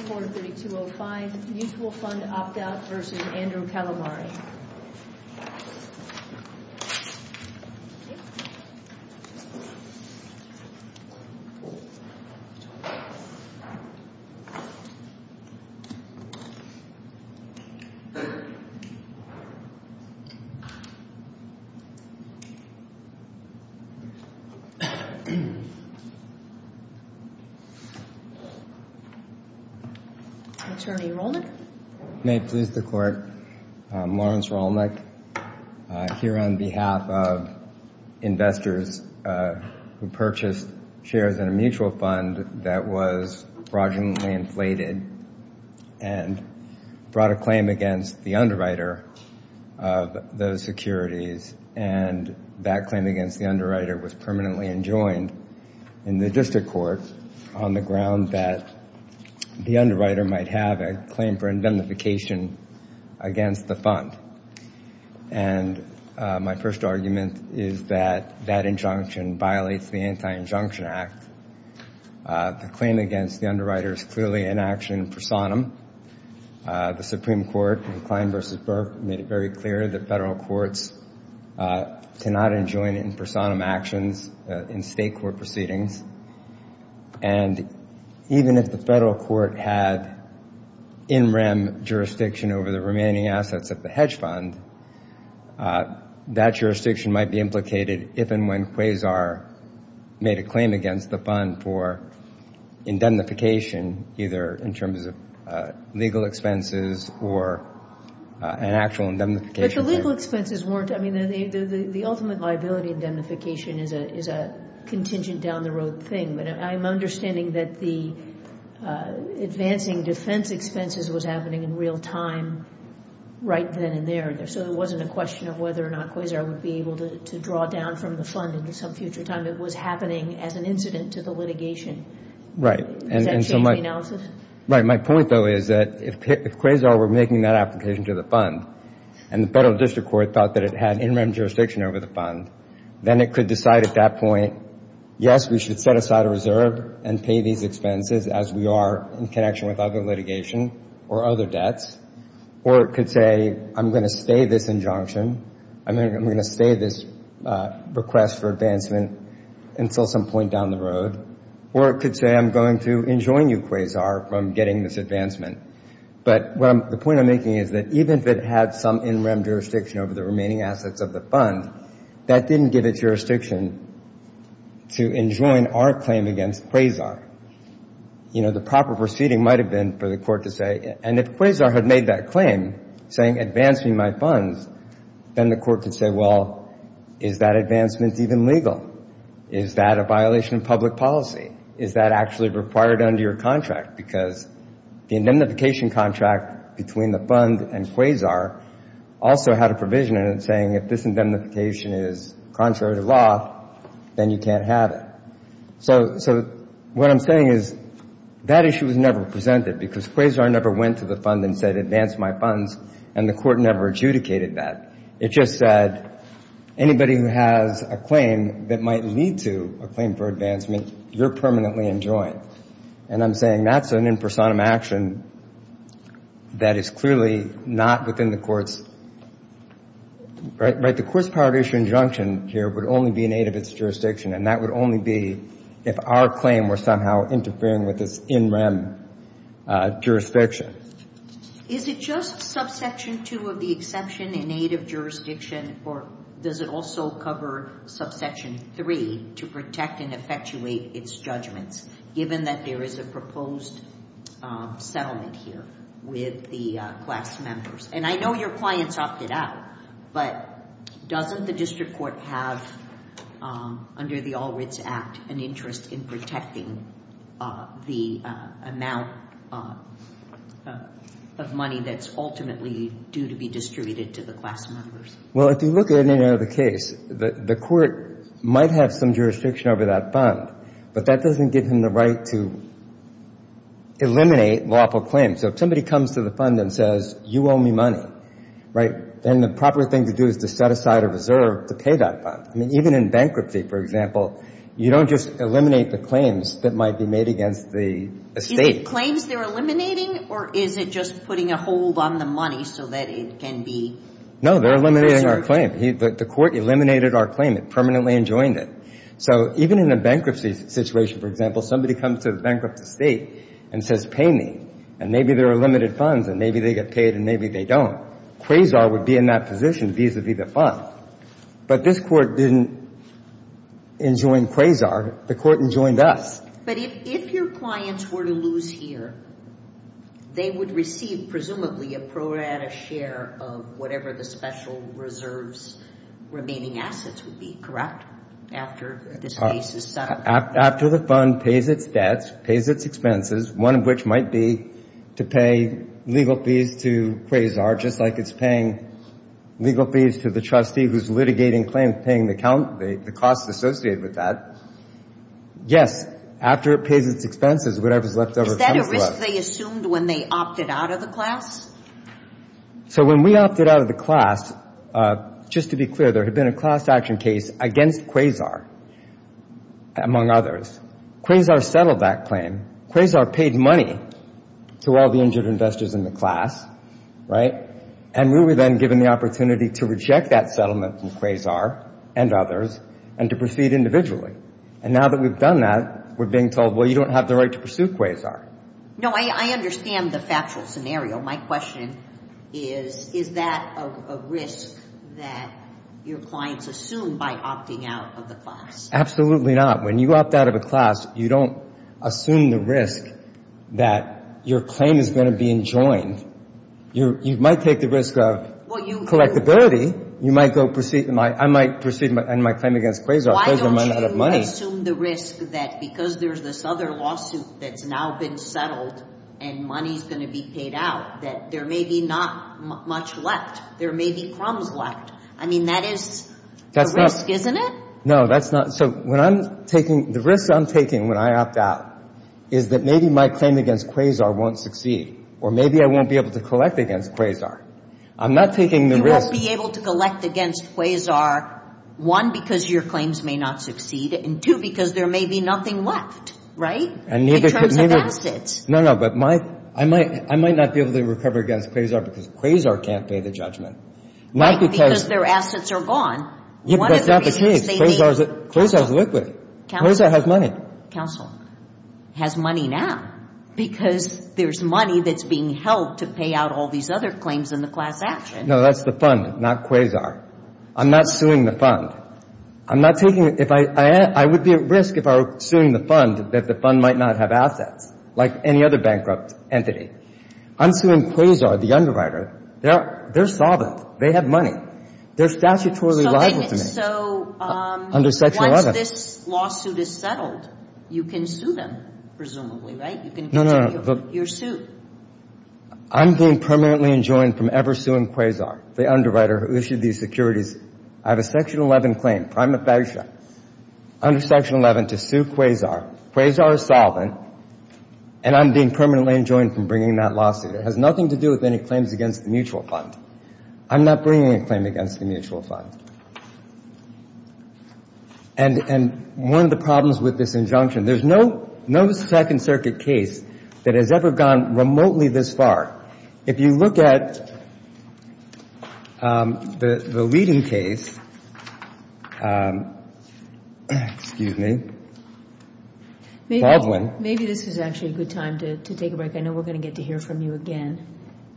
243205 Mutual Fund Opt-out v. Andrew Calamari Attorney Rolnick. May it please the Court, I'm Lawrence Rolnick, here on behalf of investors who purchased shares in a mutual fund that was fraudulently inflated and brought a claim against the underwriter of those securities, and that claim against the underwriter was permanently enjoined in the district court on the ground that the underwriter was a fraud. The claim against the underwriter might have a claim for indemnification against the fund, and my first argument is that that injunction violates the Anti-Injunction Act. The claim against the underwriter is clearly an action in personam. The Supreme Court in Klein v. Burke made it very clear that federal courts cannot enjoin in personam actions in state court proceedings, and even if the federal court had a claim for indemnification against the fund, that would be a violation of the Anti-Injunction Act. If the federal court had in rem jurisdiction over the remaining assets of the hedge fund, that jurisdiction might be implicated if and when Quasar made a claim against the fund for indemnification, either in terms of legal expenses or an actual indemnification. But the legal expenses weren't. I mean, the ultimate liability of indemnification is a contingent, down-the-road thing, but I'm understanding that the advancing liability of indemnification is a contingent down-the-road thing. But I'm understanding that the advancing defense expenses was happening in real time right then and there, and so it wasn't a question of whether or not Quasar would be able to draw down from the fund into some future time. It was happening as an incident to the litigation. Right. And so my – Has that changed the analysis? Right. My point, though, is that if Quasar were making that application to the fund and the federal district court thought that it had in rem jurisdiction over the fund, then it could decide at that point, yes, we should set aside a reserve and pay these expenses as we are in connection with other jurisdictions. Right. And so Quasar could say, well, I'm going to stay this injunction. I'm going to stay this request for advancement until some point down the road. Or it could say, I'm going to enjoin you, Quasar, from getting this advancement. But what I'm – the point I'm making is that even if it had some in rem jurisdiction over the remaining assets of the fund, that didn't give it jurisdiction to enjoin our claim against Quasar. You know, the proper proceeding might have been for the court to say – and if Quasar had made that claim, saying advance me my funds, then the court could say, well, is that advancement even legal? Is that a violation of public policy? Is that actually required under your contract? Because the indemnification contract between the fund and Quasar also had a provision in it saying if this indemnification is contrary to law, then you can't have it. So what I'm saying is that issue was never presented, because Quasar never went to the fund and said advance my funds, and the court never adjudicated that. It just said anybody who has a claim that might lead to a claim for advancement, you're permanently enjoined. And I'm saying that's an impersonum action that is clearly not within the court's – right? The Quis Partition injunction here would only be in aid of its jurisdiction, and that would only be if our claim were somehow interfering with its in rem jurisdiction. Is it just subsection 2 of the exception in aid of jurisdiction, or does it also cover subsection 3 to protect and effectuate its judgments, given that there is a proposed settlement here with the class members? And I know your clients opted out, but doesn't the district court have, under the All Writs Act, an interest in protecting the amount of money that's ultimately due to be distributed to the class members? Well, if you look at any other case, the court might have some jurisdiction over that fund, but that doesn't give him the right to eliminate lawful claims. So if somebody comes to the fund and says, you owe me money, right, then the proper thing to do is to set aside a reserve to pay that fund. I mean, even in bankruptcy, for example, you don't just eliminate the claims that might be made against the estate. Is it claims they're eliminating, or is it just putting a hold on the money so that it can be reserved? No, they're eliminating our claim. The court eliminated our claim. It permanently enjoined it. So even in a bankruptcy situation, for example, somebody comes to the bankrupt estate and says, pay me, and maybe there are limited funds, and maybe they get paid, and maybe they don't. Quasar would be in that position vis-à-vis the fund. But this court didn't enjoin Quasar. The court enjoined us. But if your clients were to lose here, they would receive, presumably, a pro rata share of whatever the special reserves remaining assets would be, correct? After the fund pays its debts, pays its expenses, one of which might be to pay legal fees to Quasar, just like it's paying legal fees to the trustee who's litigating claims, paying the cost associated with that. Yes, after it pays its expenses, whatever's left over comes to us. Is that a risk they assumed when they opted out of the class? So when we opted out of the class, just to be clear, there had been a class action case against Quasar, among others. Quasar settled that claim. Quasar paid money to all the injured investors in the class, right? And we were then given the opportunity to reject that settlement from Quasar and others and to proceed individually. And now that we've done that, we're being told, well, you don't have the right to pursue Quasar. No, I understand the factual scenario. My question is, is that a risk that your clients assumed by opting out of the class? Absolutely not. When you opt out of a class, you don't assume the risk that your claim is going to be enjoined. You might take the risk of collectability. You might go proceed my claim against Quasar. Why don't you assume the risk that because there's this other lawsuit that's now been settled and money's going to be paid out, that there may be not much left? There may be crumbs left. I mean, that is the risk, isn't it? No, that's not. So the risk I'm taking when I opt out is that maybe my claim against Quasar won't succeed. Or maybe I won't be able to collect against Quasar. I'm not taking the risk. You won't be able to collect against Quasar, one, because your claims may not succeed, and two, because there may be nothing left, right, in terms of assets. No, no, but I might not be able to recover against Quasar because Quasar can't pay the judgment. Right, because their assets are gone. That's not the case. Quasar is liquid. Quasar has money. Counsel, has money now because there's money that's being held to pay out all these other claims in the class action. I'm not suing the fund. I'm not taking it. I would be at risk if I were suing the fund, that the fund might not have assets, like any other bankrupt entity. I'm suing Quasar, the underwriter. They're solvent. They have money. They're statutorily liable to me. So once this lawsuit is settled, you can sue them, presumably, right? You can continue your suit. I'm being permanently enjoined from ever suing Quasar, the underwriter who issued these securities. I have a Section 11 claim, prima facie, under Section 11 to sue Quasar. Quasar is solvent, and I'm being permanently enjoined from bringing that lawsuit. It has nothing to do with any claims against the mutual fund. I'm not bringing a claim against the mutual fund. And one of the problems with this injunction, there's no Second Circuit case that has ever gone remotely this far. If you look at the leading case, excuse me, Baldwin. Maybe this is actually a good time to take a break. I know we're going to get to hear from you again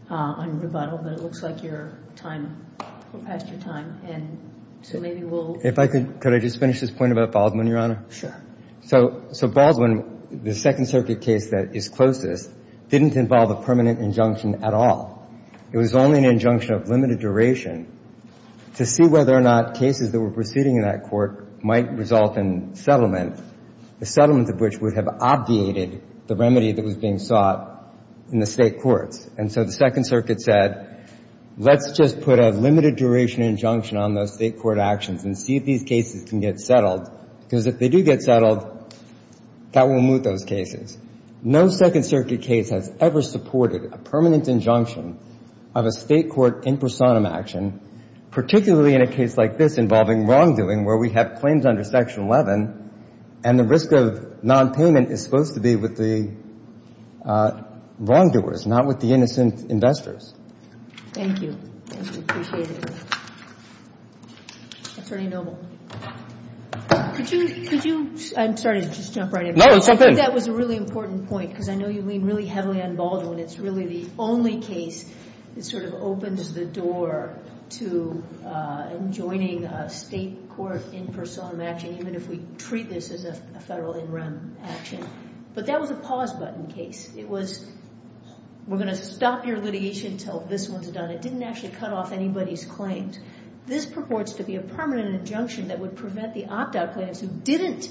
on rebuttal, but it looks like your time, we're past your time. And so maybe we'll... If I could, could I just finish this point about Baldwin, Your Honor? Sure. So Baldwin, the Second Circuit case that is closest, didn't involve a permanent injunction at all. It was only an injunction of limited duration to see whether or not cases that were proceeding in that court might result in settlement, the settlement of which would have obviated the remedy that was being sought in the State courts. And so the Second Circuit said, let's just put a limited duration injunction on those State court actions and see if these cases can get settled, because if they do get settled, that will moot those cases. No Second Circuit case has ever supported a permanent injunction of a State court in personam action, particularly in a case like this involving wrongdoing, where we have claims under Section 11 and the risk of nonpayment is supposed to be with the wrongdoers, not with the innocent investors. Thank you. Could you... I'm sorry to just jump right in. That was a really important point, because I know you mean really heavily on Baldwin. It's really the only case that sort of opens the door to enjoining a State court in personam action, even if we treat this as a Federal in rem action. But that was a pause button case. It was, we're going to stop your litigation until this one's done. It didn't actually cut off anybody's claims. This purports to be a permanent injunction that would prevent the opt-out plaintiffs who didn't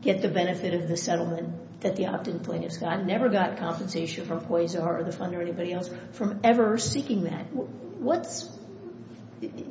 get the benefit of the settlement that the opt-in plaintiffs got, never got compensation from Quasar or the funder or anybody else, from ever seeking that.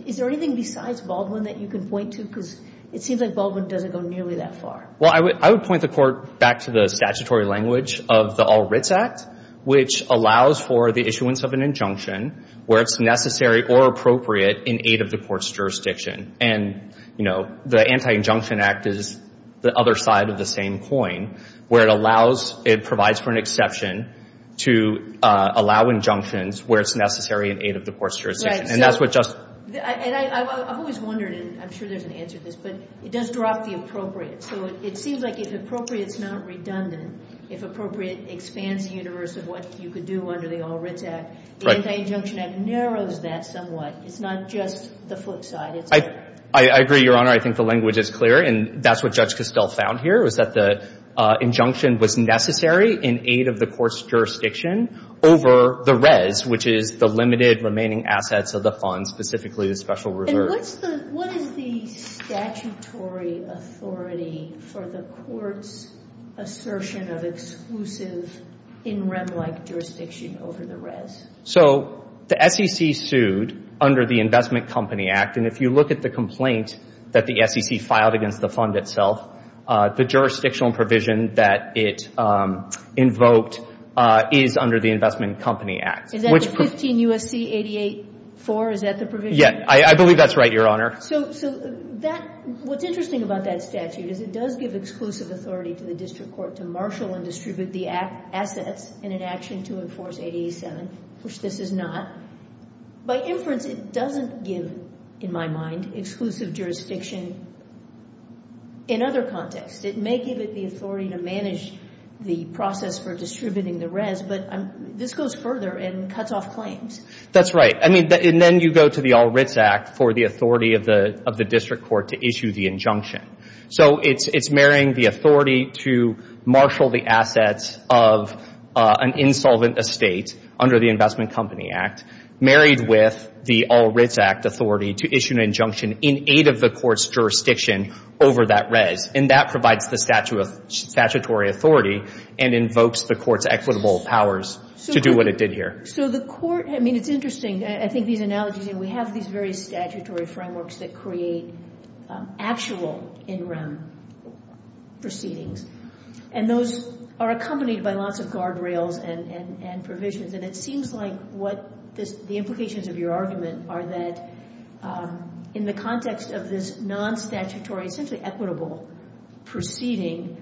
Is there anything besides Baldwin that you can point to? Because it seems like Baldwin doesn't go nearly that far. Well, I would point the Court back to the statutory language of the All Writs Act, which allows for the issuance of an injunction where it's necessary or appropriate in aid of the Court's jurisdiction. And, you know, the Anti-Injunction Act is the other side of the same coin, where it allows, it provides for an exception to allow injunctions where it's necessary in aid of the Court's jurisdiction. And that's what just... And I've always wondered, and I'm sure there's an answer to this, but it does drop the appropriate. So it seems like if appropriate's not redundant, if appropriate expands the universe of what you could do under the All Writs Act, the Anti-Injunction Act narrows that somewhat. It's not just the flip side. I agree, Your Honor. I think the language is clear. And that's what Judge Castell found here, is that the injunction was necessary in aid of the Court's jurisdiction over the res, which is the limited remaining assets of the fund, specifically the special reserve. And what is the statutory authority for the Court's assertion of exclusive in rem-like jurisdiction over the res? So the SEC sued under the Investment Company Act. And if you look at the complaint that the SEC filed against the fund itself, the jurisdictional provision that it invoked is under the Investment Company Act. Is that the 15 U.S.C. 88-4? Is that the provision? Yeah. I believe that's right, Your Honor. So that, what's interesting about that statute is it does give exclusive authority to the District Court to marshal and distribute the assets in an action to enforce 88-7, which this is not. By inference, it doesn't give, in my mind, exclusive jurisdiction in other contexts. It may give it the authority to manage the process for distributing the res, but this goes further and cuts off claims. That's right. And then you go to the All Writs Act for the authority of the District Court to issue the injunction. So it's marrying the authority to marshal the assets of an insolvent estate under the Investment Company Act married with the All Writs Act authority to issue an injunction in aid of the court's jurisdiction over that res. And that provides the statutory authority and invokes the court's equitable powers to do what it did here. So the court, I mean, it's interesting. I think these analogies, and we have these very statutory frameworks that create actual in-room proceedings. And those are accompanied by lots of guardrails and provisions. And it seems like what the implications of your argument are that in the context of this non-statutory, essentially equitable, proceeding,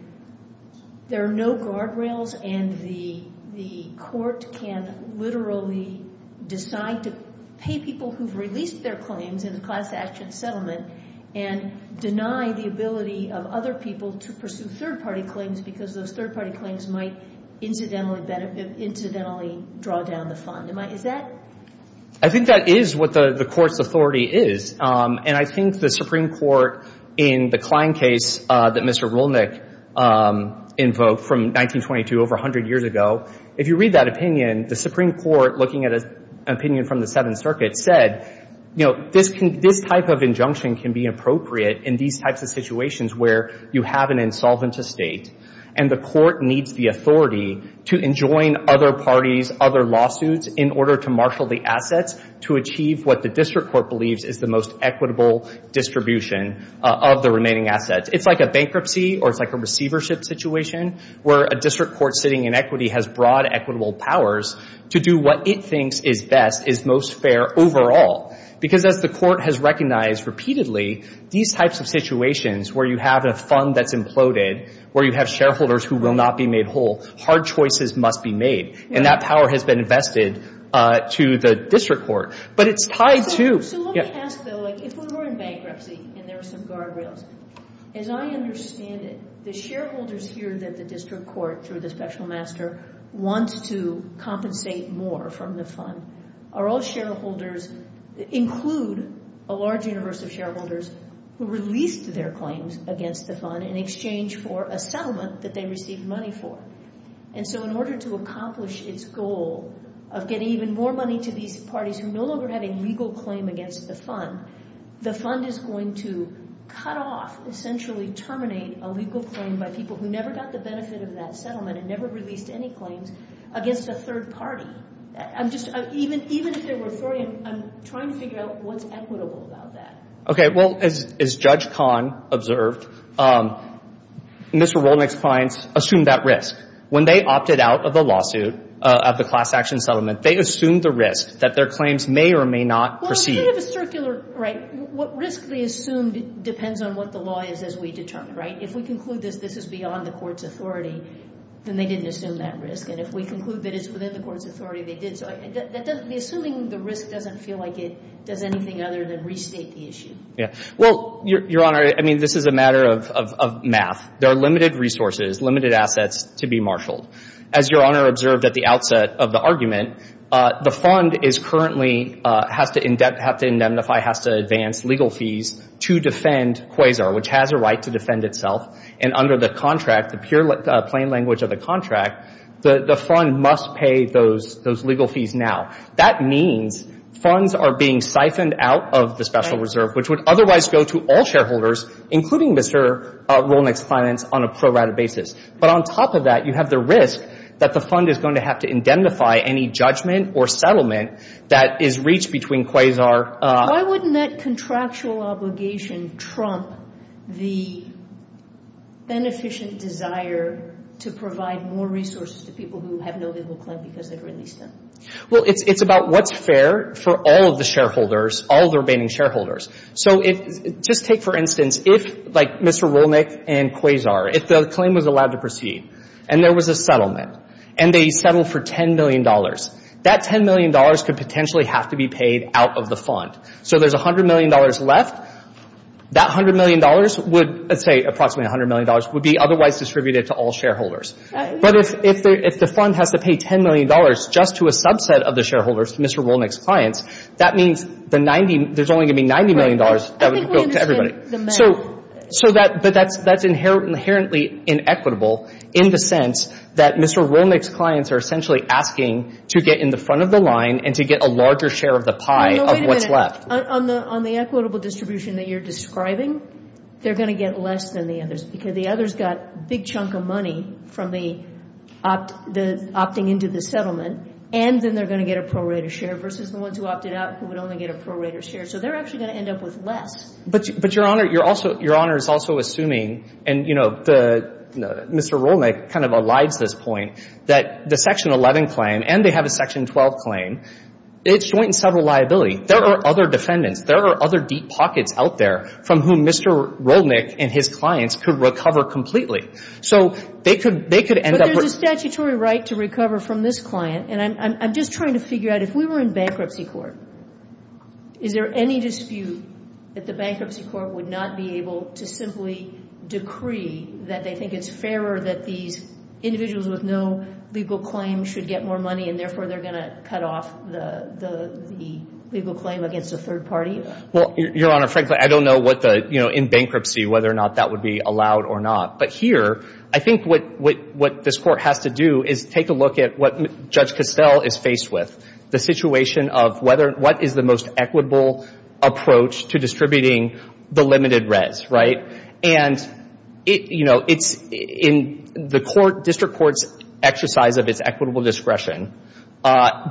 there are no guardrails, and the court can literally decide to pay people who've released their claims in a class-action settlement and deny the ability of other people to pursue third-party claims because those third-party claims might incidentally draw down the fund. Is that? I think that is what the court's authority is. And I think the Supreme Court, in the Klein case that Mr. Rolnick invoked from 1922, over 100 years ago, if you read that opinion, the Supreme Court, looking at an opinion from the Seventh Circuit, said, you know, this type of injunction can be appropriate in these types of situations where you have an insolvent estate and the court needs the authority to enjoin other parties, other lawsuits, in order to marshal the assets to achieve what the district court believes is the most equitable distribution of the remaining assets. It's like a bankruptcy or it's like a receivership situation where a district court sitting in equity has broad equitable powers to do what it thinks is best, is most fair overall. Because as the court has recognized repeatedly, these types of situations where you have a fund that's imploded, where you have shareholders who will not be made whole, hard choices must be made. And that power has been invested to the district court. But it's tied to... So let me ask, though, if we were in bankruptcy and there were some guardrails, as I understand it, the shareholders here that the district court, through the special master, wants to compensate more from the fund, are all shareholders, include a large universe of shareholders who released their claims against the fund in exchange for a settlement that they received money for. And so in order to accomplish its goal of getting even more money to these parties who no longer have a legal claim against the fund, the fund is going to cut off, essentially terminate, a legal claim by people who never got the benefit of that settlement and never released any claims against a third party. Even if they were authority, I'm trying to figure out what's equitable about that. Okay. Well, as Judge Kahn observed, Mr. Rolnick's clients assumed that risk. When they opted out of the lawsuit of the class action settlement, they assumed the risk that their claims may or may not proceed. It's sort of a circular, right? What risk they assumed depends on what the law is as we determine, right? If we conclude that this is beyond the court's authority, then they didn't assume that risk. And if we conclude that it's within the court's authority, they did. So assuming the risk doesn't feel like it does anything other than restate the issue. Yeah. Well, Your Honor, I mean, this is a matter of math. There are limited resources, limited assets to be marshaled. As Your Honor observed at the outset of the argument, the fund is currently has to indemnify, has to advance legal fees to defend Quasar, which has a right to defend itself. And under the contract, the plain language of the contract, the fund must pay those legal fees now. That means funds are being siphoned out of the Special Reserve, which would otherwise go to all shareholders, including Mr. Rolnick's finance, on a pro rata basis. But on top of that, you have the risk that the fund is going to have to indemnify any judgment or settlement that is reached between Quasar. Why wouldn't that contractual obligation trump the beneficent desire to provide more resources to people who have no legal claim because they've released them? Well, it's about what's fair for all of the shareholders, all of the remaining shareholders. So just take, for instance, if, like, Mr. Rolnick and Quasar, if the claim was allowed to proceed and there was a settlement and they settled for $10 million, that $10 million could potentially have to be paid out of the fund. So there's $100 million left. That $100 million would, let's say approximately $100 million, would be otherwise distributed to all shareholders. But if the fund has to pay $10 million just to a subset of the shareholders, Mr. Rolnick's clients, that means there's only going to be $90 million that would go to everybody. So that's inherently inequitable in the sense that Mr. Rolnick's clients are essentially asking to get in the front of the line and to get a larger share of the pie of what's left. No, wait a minute. On the equitable distribution that you're describing, they're going to get less than the others because the others got a big chunk of money from the opting into the settlement, and then they're going to get a prorated share versus the ones who opted out who would only get a prorated share. So they're actually going to end up with less. But, Your Honor, Your Honor is also assuming, and, you know, Mr. Rolnick kind of elides this point, that the Section 11 claim and they have a Section 12 claim, it's joint and several liability. There are other defendants, there are other deep pockets out there from whom Mr. Rolnick and his clients could recover completely. So they could end up with — But there's a statutory right to recover from this client, and I'm just trying to figure out, if we were in bankruptcy court, is there any dispute that the bankruptcy court would not be able to simply decree that they think it's fairer that these individuals with no legal claim should get more money, and therefore they're going to cut off the legal claim against a third party? Well, Your Honor, frankly, I don't know what the — you know, in bankruptcy, whether or not that would be allowed or not. But here, I think what this Court has to do is take a look at what Judge Costell is faced with, the situation of whether — what is the most equitable approach to distributing the limited res, right? And, you know, it's in the court — district court's exercise of its equitable discretion,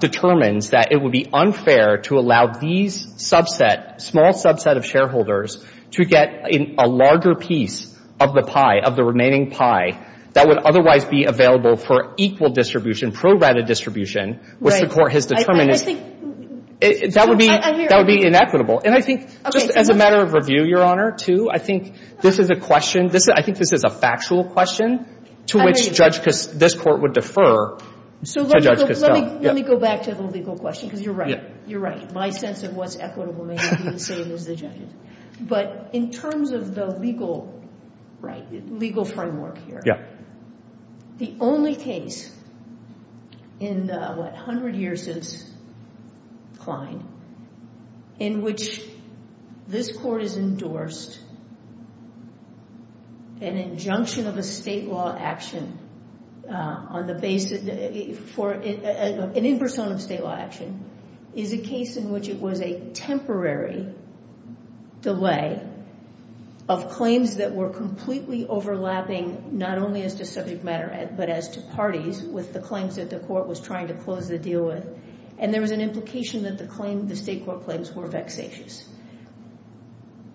determines that it would be unfair to allow these subset — small subset of shareholders to get a larger piece of the pie, of the remaining pie, that would otherwise be available for equal distribution, pro rata distribution, which the court has determined is — Right. I just think — That would be — I hear you. That would be inequitable. And I think, just as a matter of review, Your Honor, too, I think this is a question — I think this is a factual question to which Judge — this Court would defer to Judge Costell. So let me go back to the legal question, because you're right. You're right. My sense of what's equitable may not be the same as the judge's. But in terms of the legal — right, legal framework here — Yeah. The only case in the, what, 100 years since Klein, in which this Court has endorsed an injunction of a state law action on the basis — for an impersonum state law action, is a case in which it was a temporary delay of claims that were completely overlapping, not only as to subject matter, but as to parties, with the claims that the Court was trying to close the deal with. And there was an implication that the state court claims were vexatious.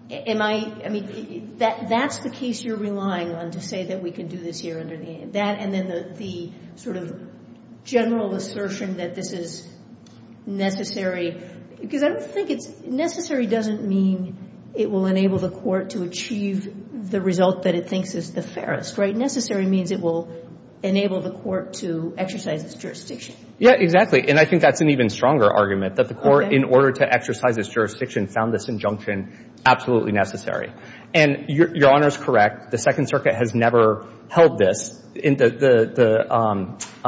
Am I — I mean, that's the case you're relying on to say that we can do this here under the — that and then the sort of general assertion that this is necessary. Because I don't think it's — necessary doesn't mean it will enable the Court to achieve the result that it thinks is the fairest, right? Necessary means it will enable the Court to exercise its jurisdiction. Yeah, exactly. And I think that's an even stronger argument, that the Court, in order to exercise its jurisdiction, found this injunction absolutely necessary. And Your Honor is correct. The Second Circuit has never held this. In the —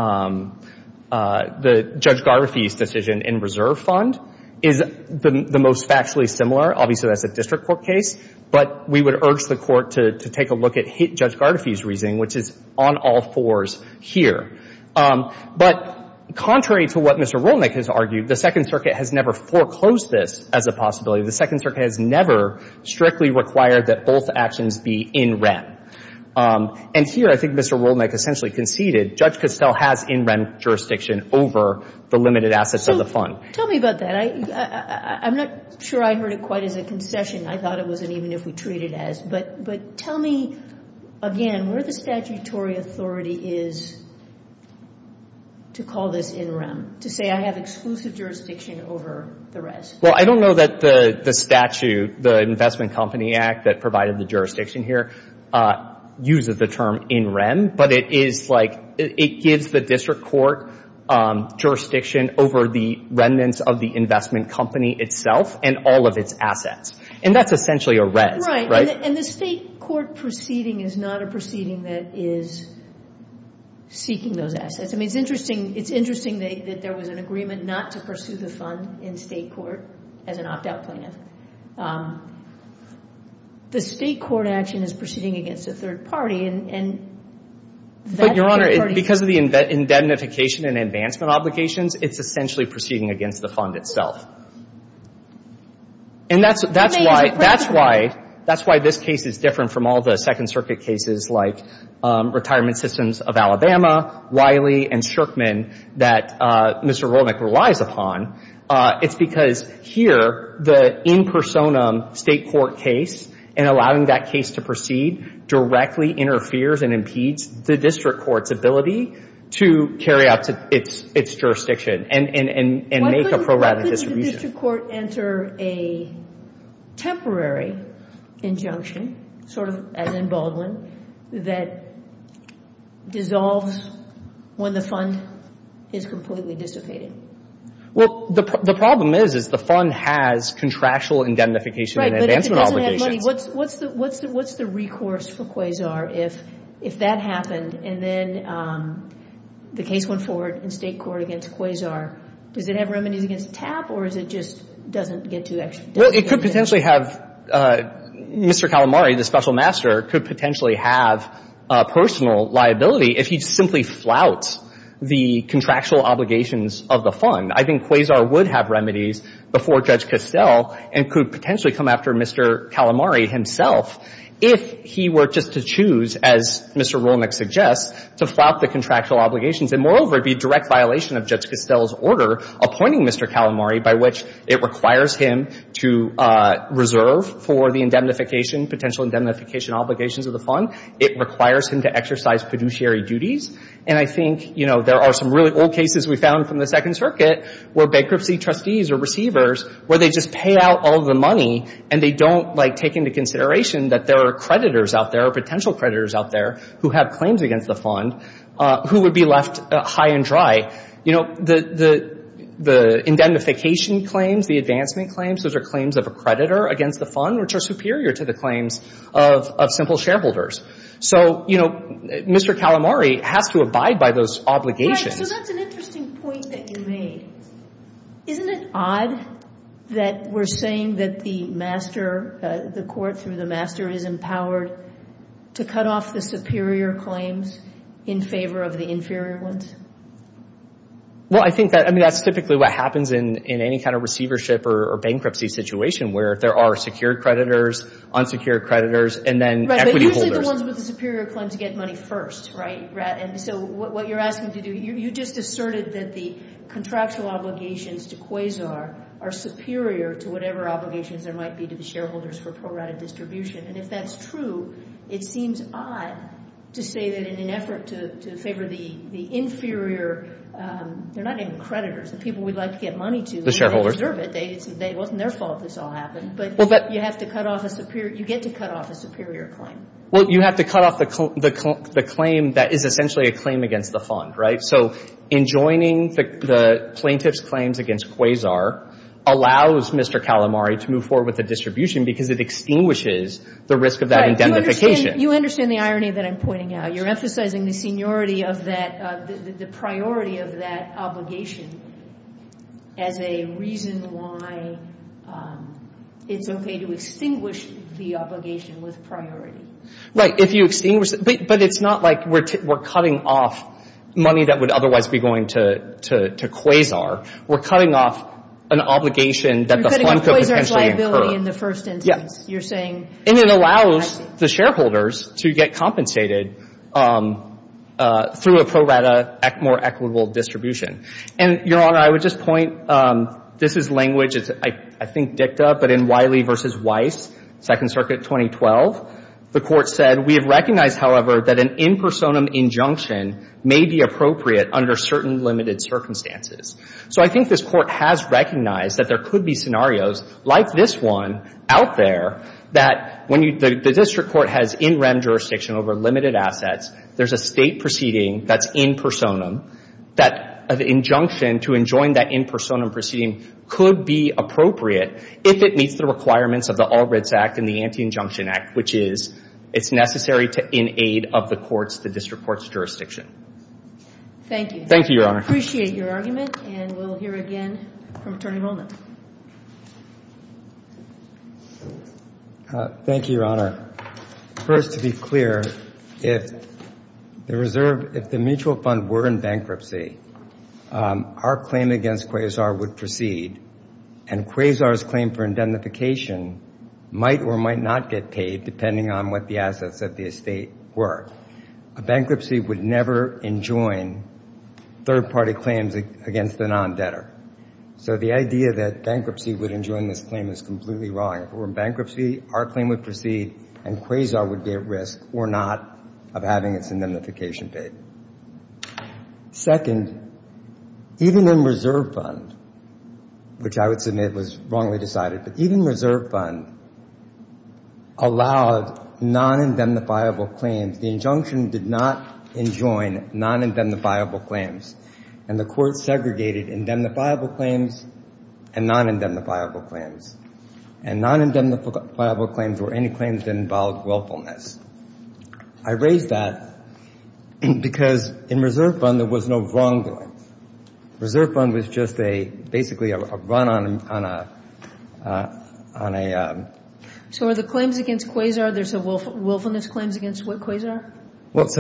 the Judge Gardefee's decision in reserve fund is the most factually similar. Obviously, that's a district court case. But we would urge the Court to take a look at Judge Gardefee's reasoning, which is on all fours here. But contrary to what Mr. Rolnick has argued, the Second Circuit has never foreclosed this as a possibility. The Second Circuit has never strictly required that both actions be in rem. And here, I think Mr. Rolnick essentially conceded, Judge Costell has in rem jurisdiction over the limited assets of the fund. So tell me about that. I'm not sure I heard it quite as a concession. I thought it wasn't even if we treat it as. But tell me again where the statutory authority is to call this in rem, to say I have exclusive jurisdiction over the rest. Well, I don't know that the statute, the Investment Company Act that provided the jurisdiction here, uses the term in rem. But it is like — it gives the district court jurisdiction over the remnants of the investment company itself and all of its assets. And that's essentially a res, right? Right. And the state court proceeding is not a proceeding that is seeking those assets. I mean, it's interesting — it's interesting that there was an agreement not to pursue the fund in state court as an opt-out plaintiff. But the state court action is proceeding against a third party, and that third party — But, Your Honor, because of the indemnification and advancement obligations, it's essentially proceeding against the fund itself. And that's why — that's why — that's why this case is different from all the Second Circuit cases like Retirement Systems of Alabama, Wiley, and Shurkman that Mr. Rolnick relies upon. It's because here, the in personam state court case, and allowing that case to proceed directly interferes and impedes the district court's ability to carry out its jurisdiction and make a program of distribution. Why couldn't the district court enter a temporary injunction, sort of as in Baldwin, that dissolves when the fund is completely dissipated? Well, the problem is, is the fund has contractual indemnification and advancement obligations. Right, but if it doesn't have money, what's the — what's the recourse for Quasar if that happened and then the case went forward in state court against Quasar? Does it have remedies against TAP, or is it just doesn't get to — Well, it could potentially have — Mr. Calamari, the special master, could potentially have personal liability if he simply flouts the contractual obligations of the fund. I think Quasar would have remedies before Judge Costell and could potentially come after Mr. Calamari himself if he were just to choose, as Mr. Rolnick suggests, to flout the contractual obligations. And moreover, it would be a direct violation of Judge Costell's order appointing Mr. Calamari, by which it requires him to reserve for the indemnification, potential indemnification obligations of the fund. It requires him to exercise fiduciary duties. And I think, you know, there are some really old cases we found from the Second Circuit where bankruptcy trustees or receivers, where they just pay out all the money and they don't, like, take into consideration that there are creditors out there, potential creditors out there, who have claims against the fund, who would be left high and dry. You know, the indemnification claims, the advancement claims, those are claims of a creditor against the fund, which are superior to the claims of simple shareholders. So, you know, Mr. Calamari has to abide by those obligations. Right. So that's an interesting point that you made. Isn't it odd that we're saying that the master, the court through the master, is empowered to cut off the superior claims in favor of the inferior ones? Well, I think that's typically what happens in any kind of receivership or bankruptcy situation where there are secured creditors, unsecured creditors, and then equity holders. Right, but usually the ones with the superior claim to get money first, right? And so what you're asking to do, you just asserted that the contractual obligations to Quasar are superior to whatever obligations there might be to the shareholders for pro-rata distribution. And if that's true, it seems odd to say that in an effort to favor the inferior, they're not even creditors, the people we'd like to get money to. The shareholders. They deserve it. It wasn't their fault this all happened. But you get to cut off a superior claim. Well, you have to cut off the claim that is essentially a claim against the fund, right? So enjoining the plaintiff's claims against Quasar allows Mr. Calamari to move forward with the distribution because it extinguishes the risk of that indemnification. Right. You understand the irony that I'm pointing out. You're emphasizing the seniority of that, the priority of that obligation as a reason why it's okay to extinguish the obligation with priority. Right, if you extinguish it. But it's not like we're cutting off money that would otherwise be going to Quasar. We're cutting off an obligation that the fund could potentially incur. You're cutting off Quasar's liability in the first instance. And it allows the shareholders to get compensated through a pro rata more equitable distribution. And, Your Honor, I would just point, this is language, I think dicta, but in Wiley v. Weiss, Second Circuit 2012, the court said, we have recognized, however, that an in personam injunction may be appropriate under certain limited circumstances. So I think this court has recognized that there could be scenarios like this one out there that when the district court has in rem jurisdiction over limited assets, there's a state proceeding that's in personam, that an injunction to enjoin that in personam proceeding could be appropriate if it meets the requirements of the Albritts Act and the Anti-Injunction Act, which is it's necessary to in aid of the district court's jurisdiction. Thank you. Thank you, Your Honor. We appreciate your argument, and we'll hear again from Attorney Roland. Thank you, Your Honor. First, to be clear, if the reserve, if the mutual fund were in bankruptcy, our claim against Quasar would proceed, and Quasar's claim for indemnification might or might not get paid, depending on what the assets of the estate were. A bankruptcy would never enjoin third-party claims against the non-debtor. So the idea that bankruptcy would enjoin this claim is completely wrong. If it were in bankruptcy, our claim would proceed, and Quasar would be at risk or not of having its indemnification paid. Second, even in reserve fund, which I would submit was wrongly decided, but even reserve fund allowed non-indemnifiable claims. The injunction did not enjoin non-indemnifiable claims, and the court segregated indemnifiable claims and non-indemnifiable claims. And non-indemnifiable claims were any claims that involved willfulness. I raise that because in reserve fund, there was no wrongdoing. Reserve fund was just basically a run on a ‑‑ So are the claims against Quasar, there's a willfulness claims against Quasar? Well, it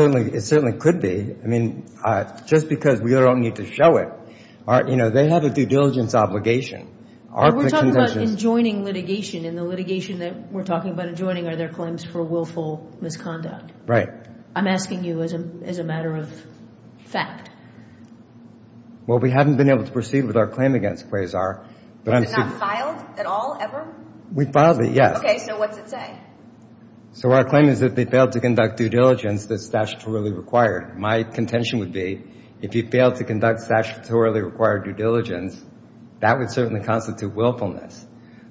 certainly could be. I mean, just because we don't need to show it, you know, they have a due diligence obligation. We're talking about enjoining litigation, and the litigation that we're talking about enjoining are their claims for willful misconduct. Right. I'm asking you as a matter of fact. Well, we haven't been able to proceed with our claim against Quasar. Was it not filed at all, ever? We filed it, yes. Okay, so what's it say? So our claim is that they failed to conduct due diligence that's statutorily required. My contention would be if you failed to conduct statutorily required due diligence, that would certainly constitute willfulness.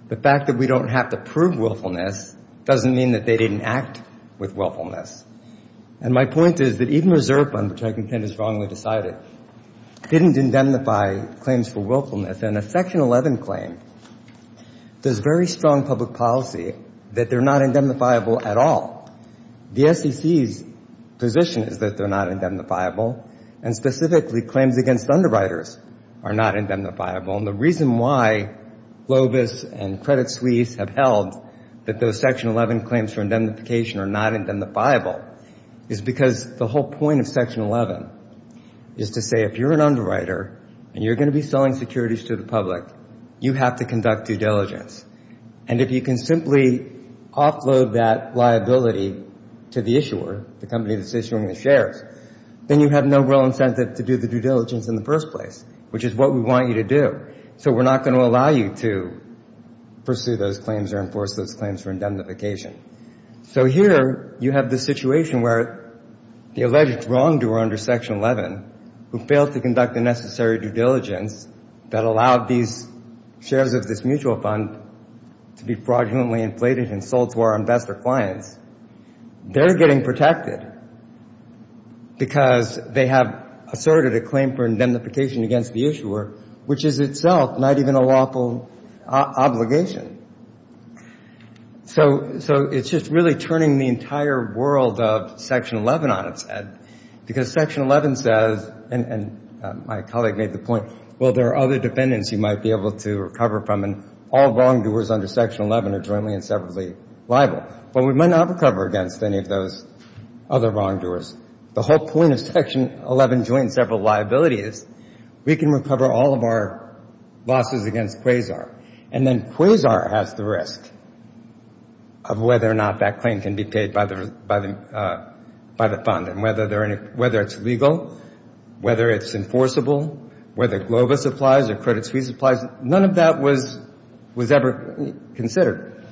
The fact that we don't have to prove willfulness doesn't mean that they didn't act with willfulness. And my point is that even Reserve Fund, which I contend is wrongly decided, didn't indemnify claims for willfulness. And a Section 11 claim does very strong public policy that they're not indemnifiable at all. The SEC's position is that they're not indemnifiable, and specifically claims against underwriters are not indemnifiable. And the reason why Lobis and Credit Suisse have held that those Section 11 claims for indemnification are not indemnifiable is because the whole point of Section 11 is to say if you're an underwriter and you're going to be selling securities to the public, you have to conduct due diligence. And if you can simply offload that liability to the issuer, the company that's issuing the shares, then you have no real incentive to do the due diligence in the first place, which is what we want you to do. So we're not going to allow you to pursue those claims or enforce those claims for indemnification. So here you have the situation where the alleged wrongdoer under Section 11 who failed to conduct the necessary due diligence that allowed these shares of this mutual fund to be fraudulently inflated and sold to our investor clients, they're getting protected because they have asserted a claim for indemnification against the issuer, which is itself not even a lawful obligation. So it's just really turning the entire world of Section 11 on its head, because Section 11 says, and my colleague made the point, well, there are other defendants you might be able to recover from, and all wrongdoers under Section 11 are jointly and separately liable. Well, we might not recover against any of those other wrongdoers. The whole point of Section 11 joint and separate liability is we can recover all of our losses against Quasar, and then Quasar has the risk of whether or not that claim can be paid by the fund, and whether it's legal, whether it's enforceable, whether Globa supplies or Credit Suisse supplies, none of that was ever considered.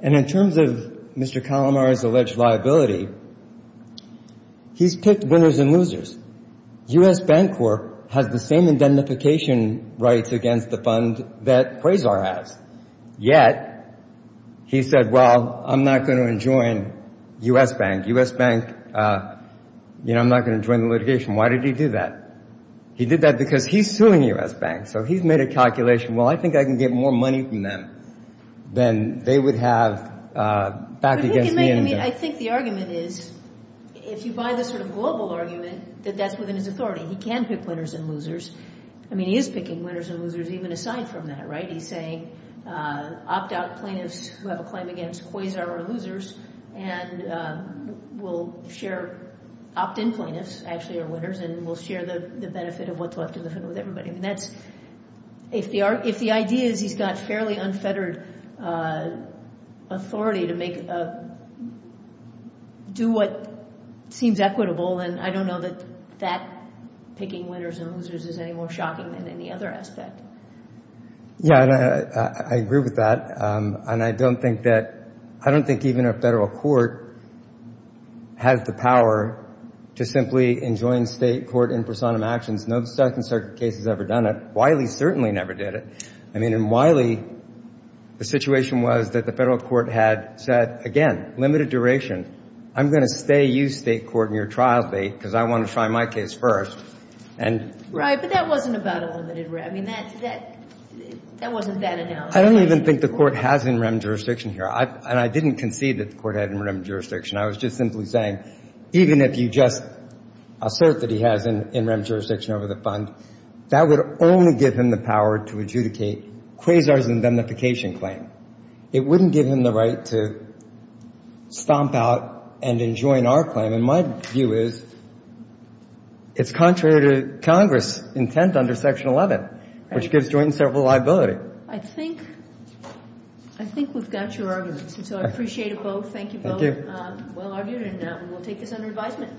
And in terms of Mr. Calamari's alleged liability, he's picked winners and losers. U.S. Bank Corp. has the same indemnification rights against the fund that Quasar has, yet he said, well, I'm not going to join U.S. Bank. U.S. Bank, you know, I'm not going to join the litigation. Why did he do that? He did that because he's suing U.S. Bank, so he's made a calculation, well, I think I can get more money from them than they would have back against me. I think the argument is if you buy the sort of global argument that that's within his authority, he can pick winners and losers. I mean, he is picking winners and losers even aside from that, right? He's saying opt-out plaintiffs who have a claim against Quasar are losers, and we'll share opt-in plaintiffs actually are winners, and we'll share the benefit of what's left in the fund with everybody. I mean, if the idea is he's got fairly unfettered authority to do what seems equitable, then I don't know that that picking winners and losers is any more shocking than any other aspect. Yeah, I agree with that, and I don't think even a federal court has the power to simply enjoin state court in personam actions. No Second Circuit case has ever done it. Wiley certainly never did it. I mean, in Wiley, the situation was that the federal court had said, again, limited duration. I'm going to stay you, state court, and your trial date because I want to try my case first. Right, but that wasn't about a limited rem. I mean, that wasn't that analysis. I don't even think the court has in rem jurisdiction here, and I didn't concede that the court had in rem jurisdiction. I was just simply saying even if you just assert that he has in rem jurisdiction over the fund, that would only give him the power to adjudicate Quasar's indemnification claim. It wouldn't give him the right to stomp out and enjoin our claim, and my view is it's contrary to Congress' intent under Section 11, which gives Joynton several liability. I think we've got your argument, so I appreciate it both. Thank you both. Well argued, and we'll take this under advisement.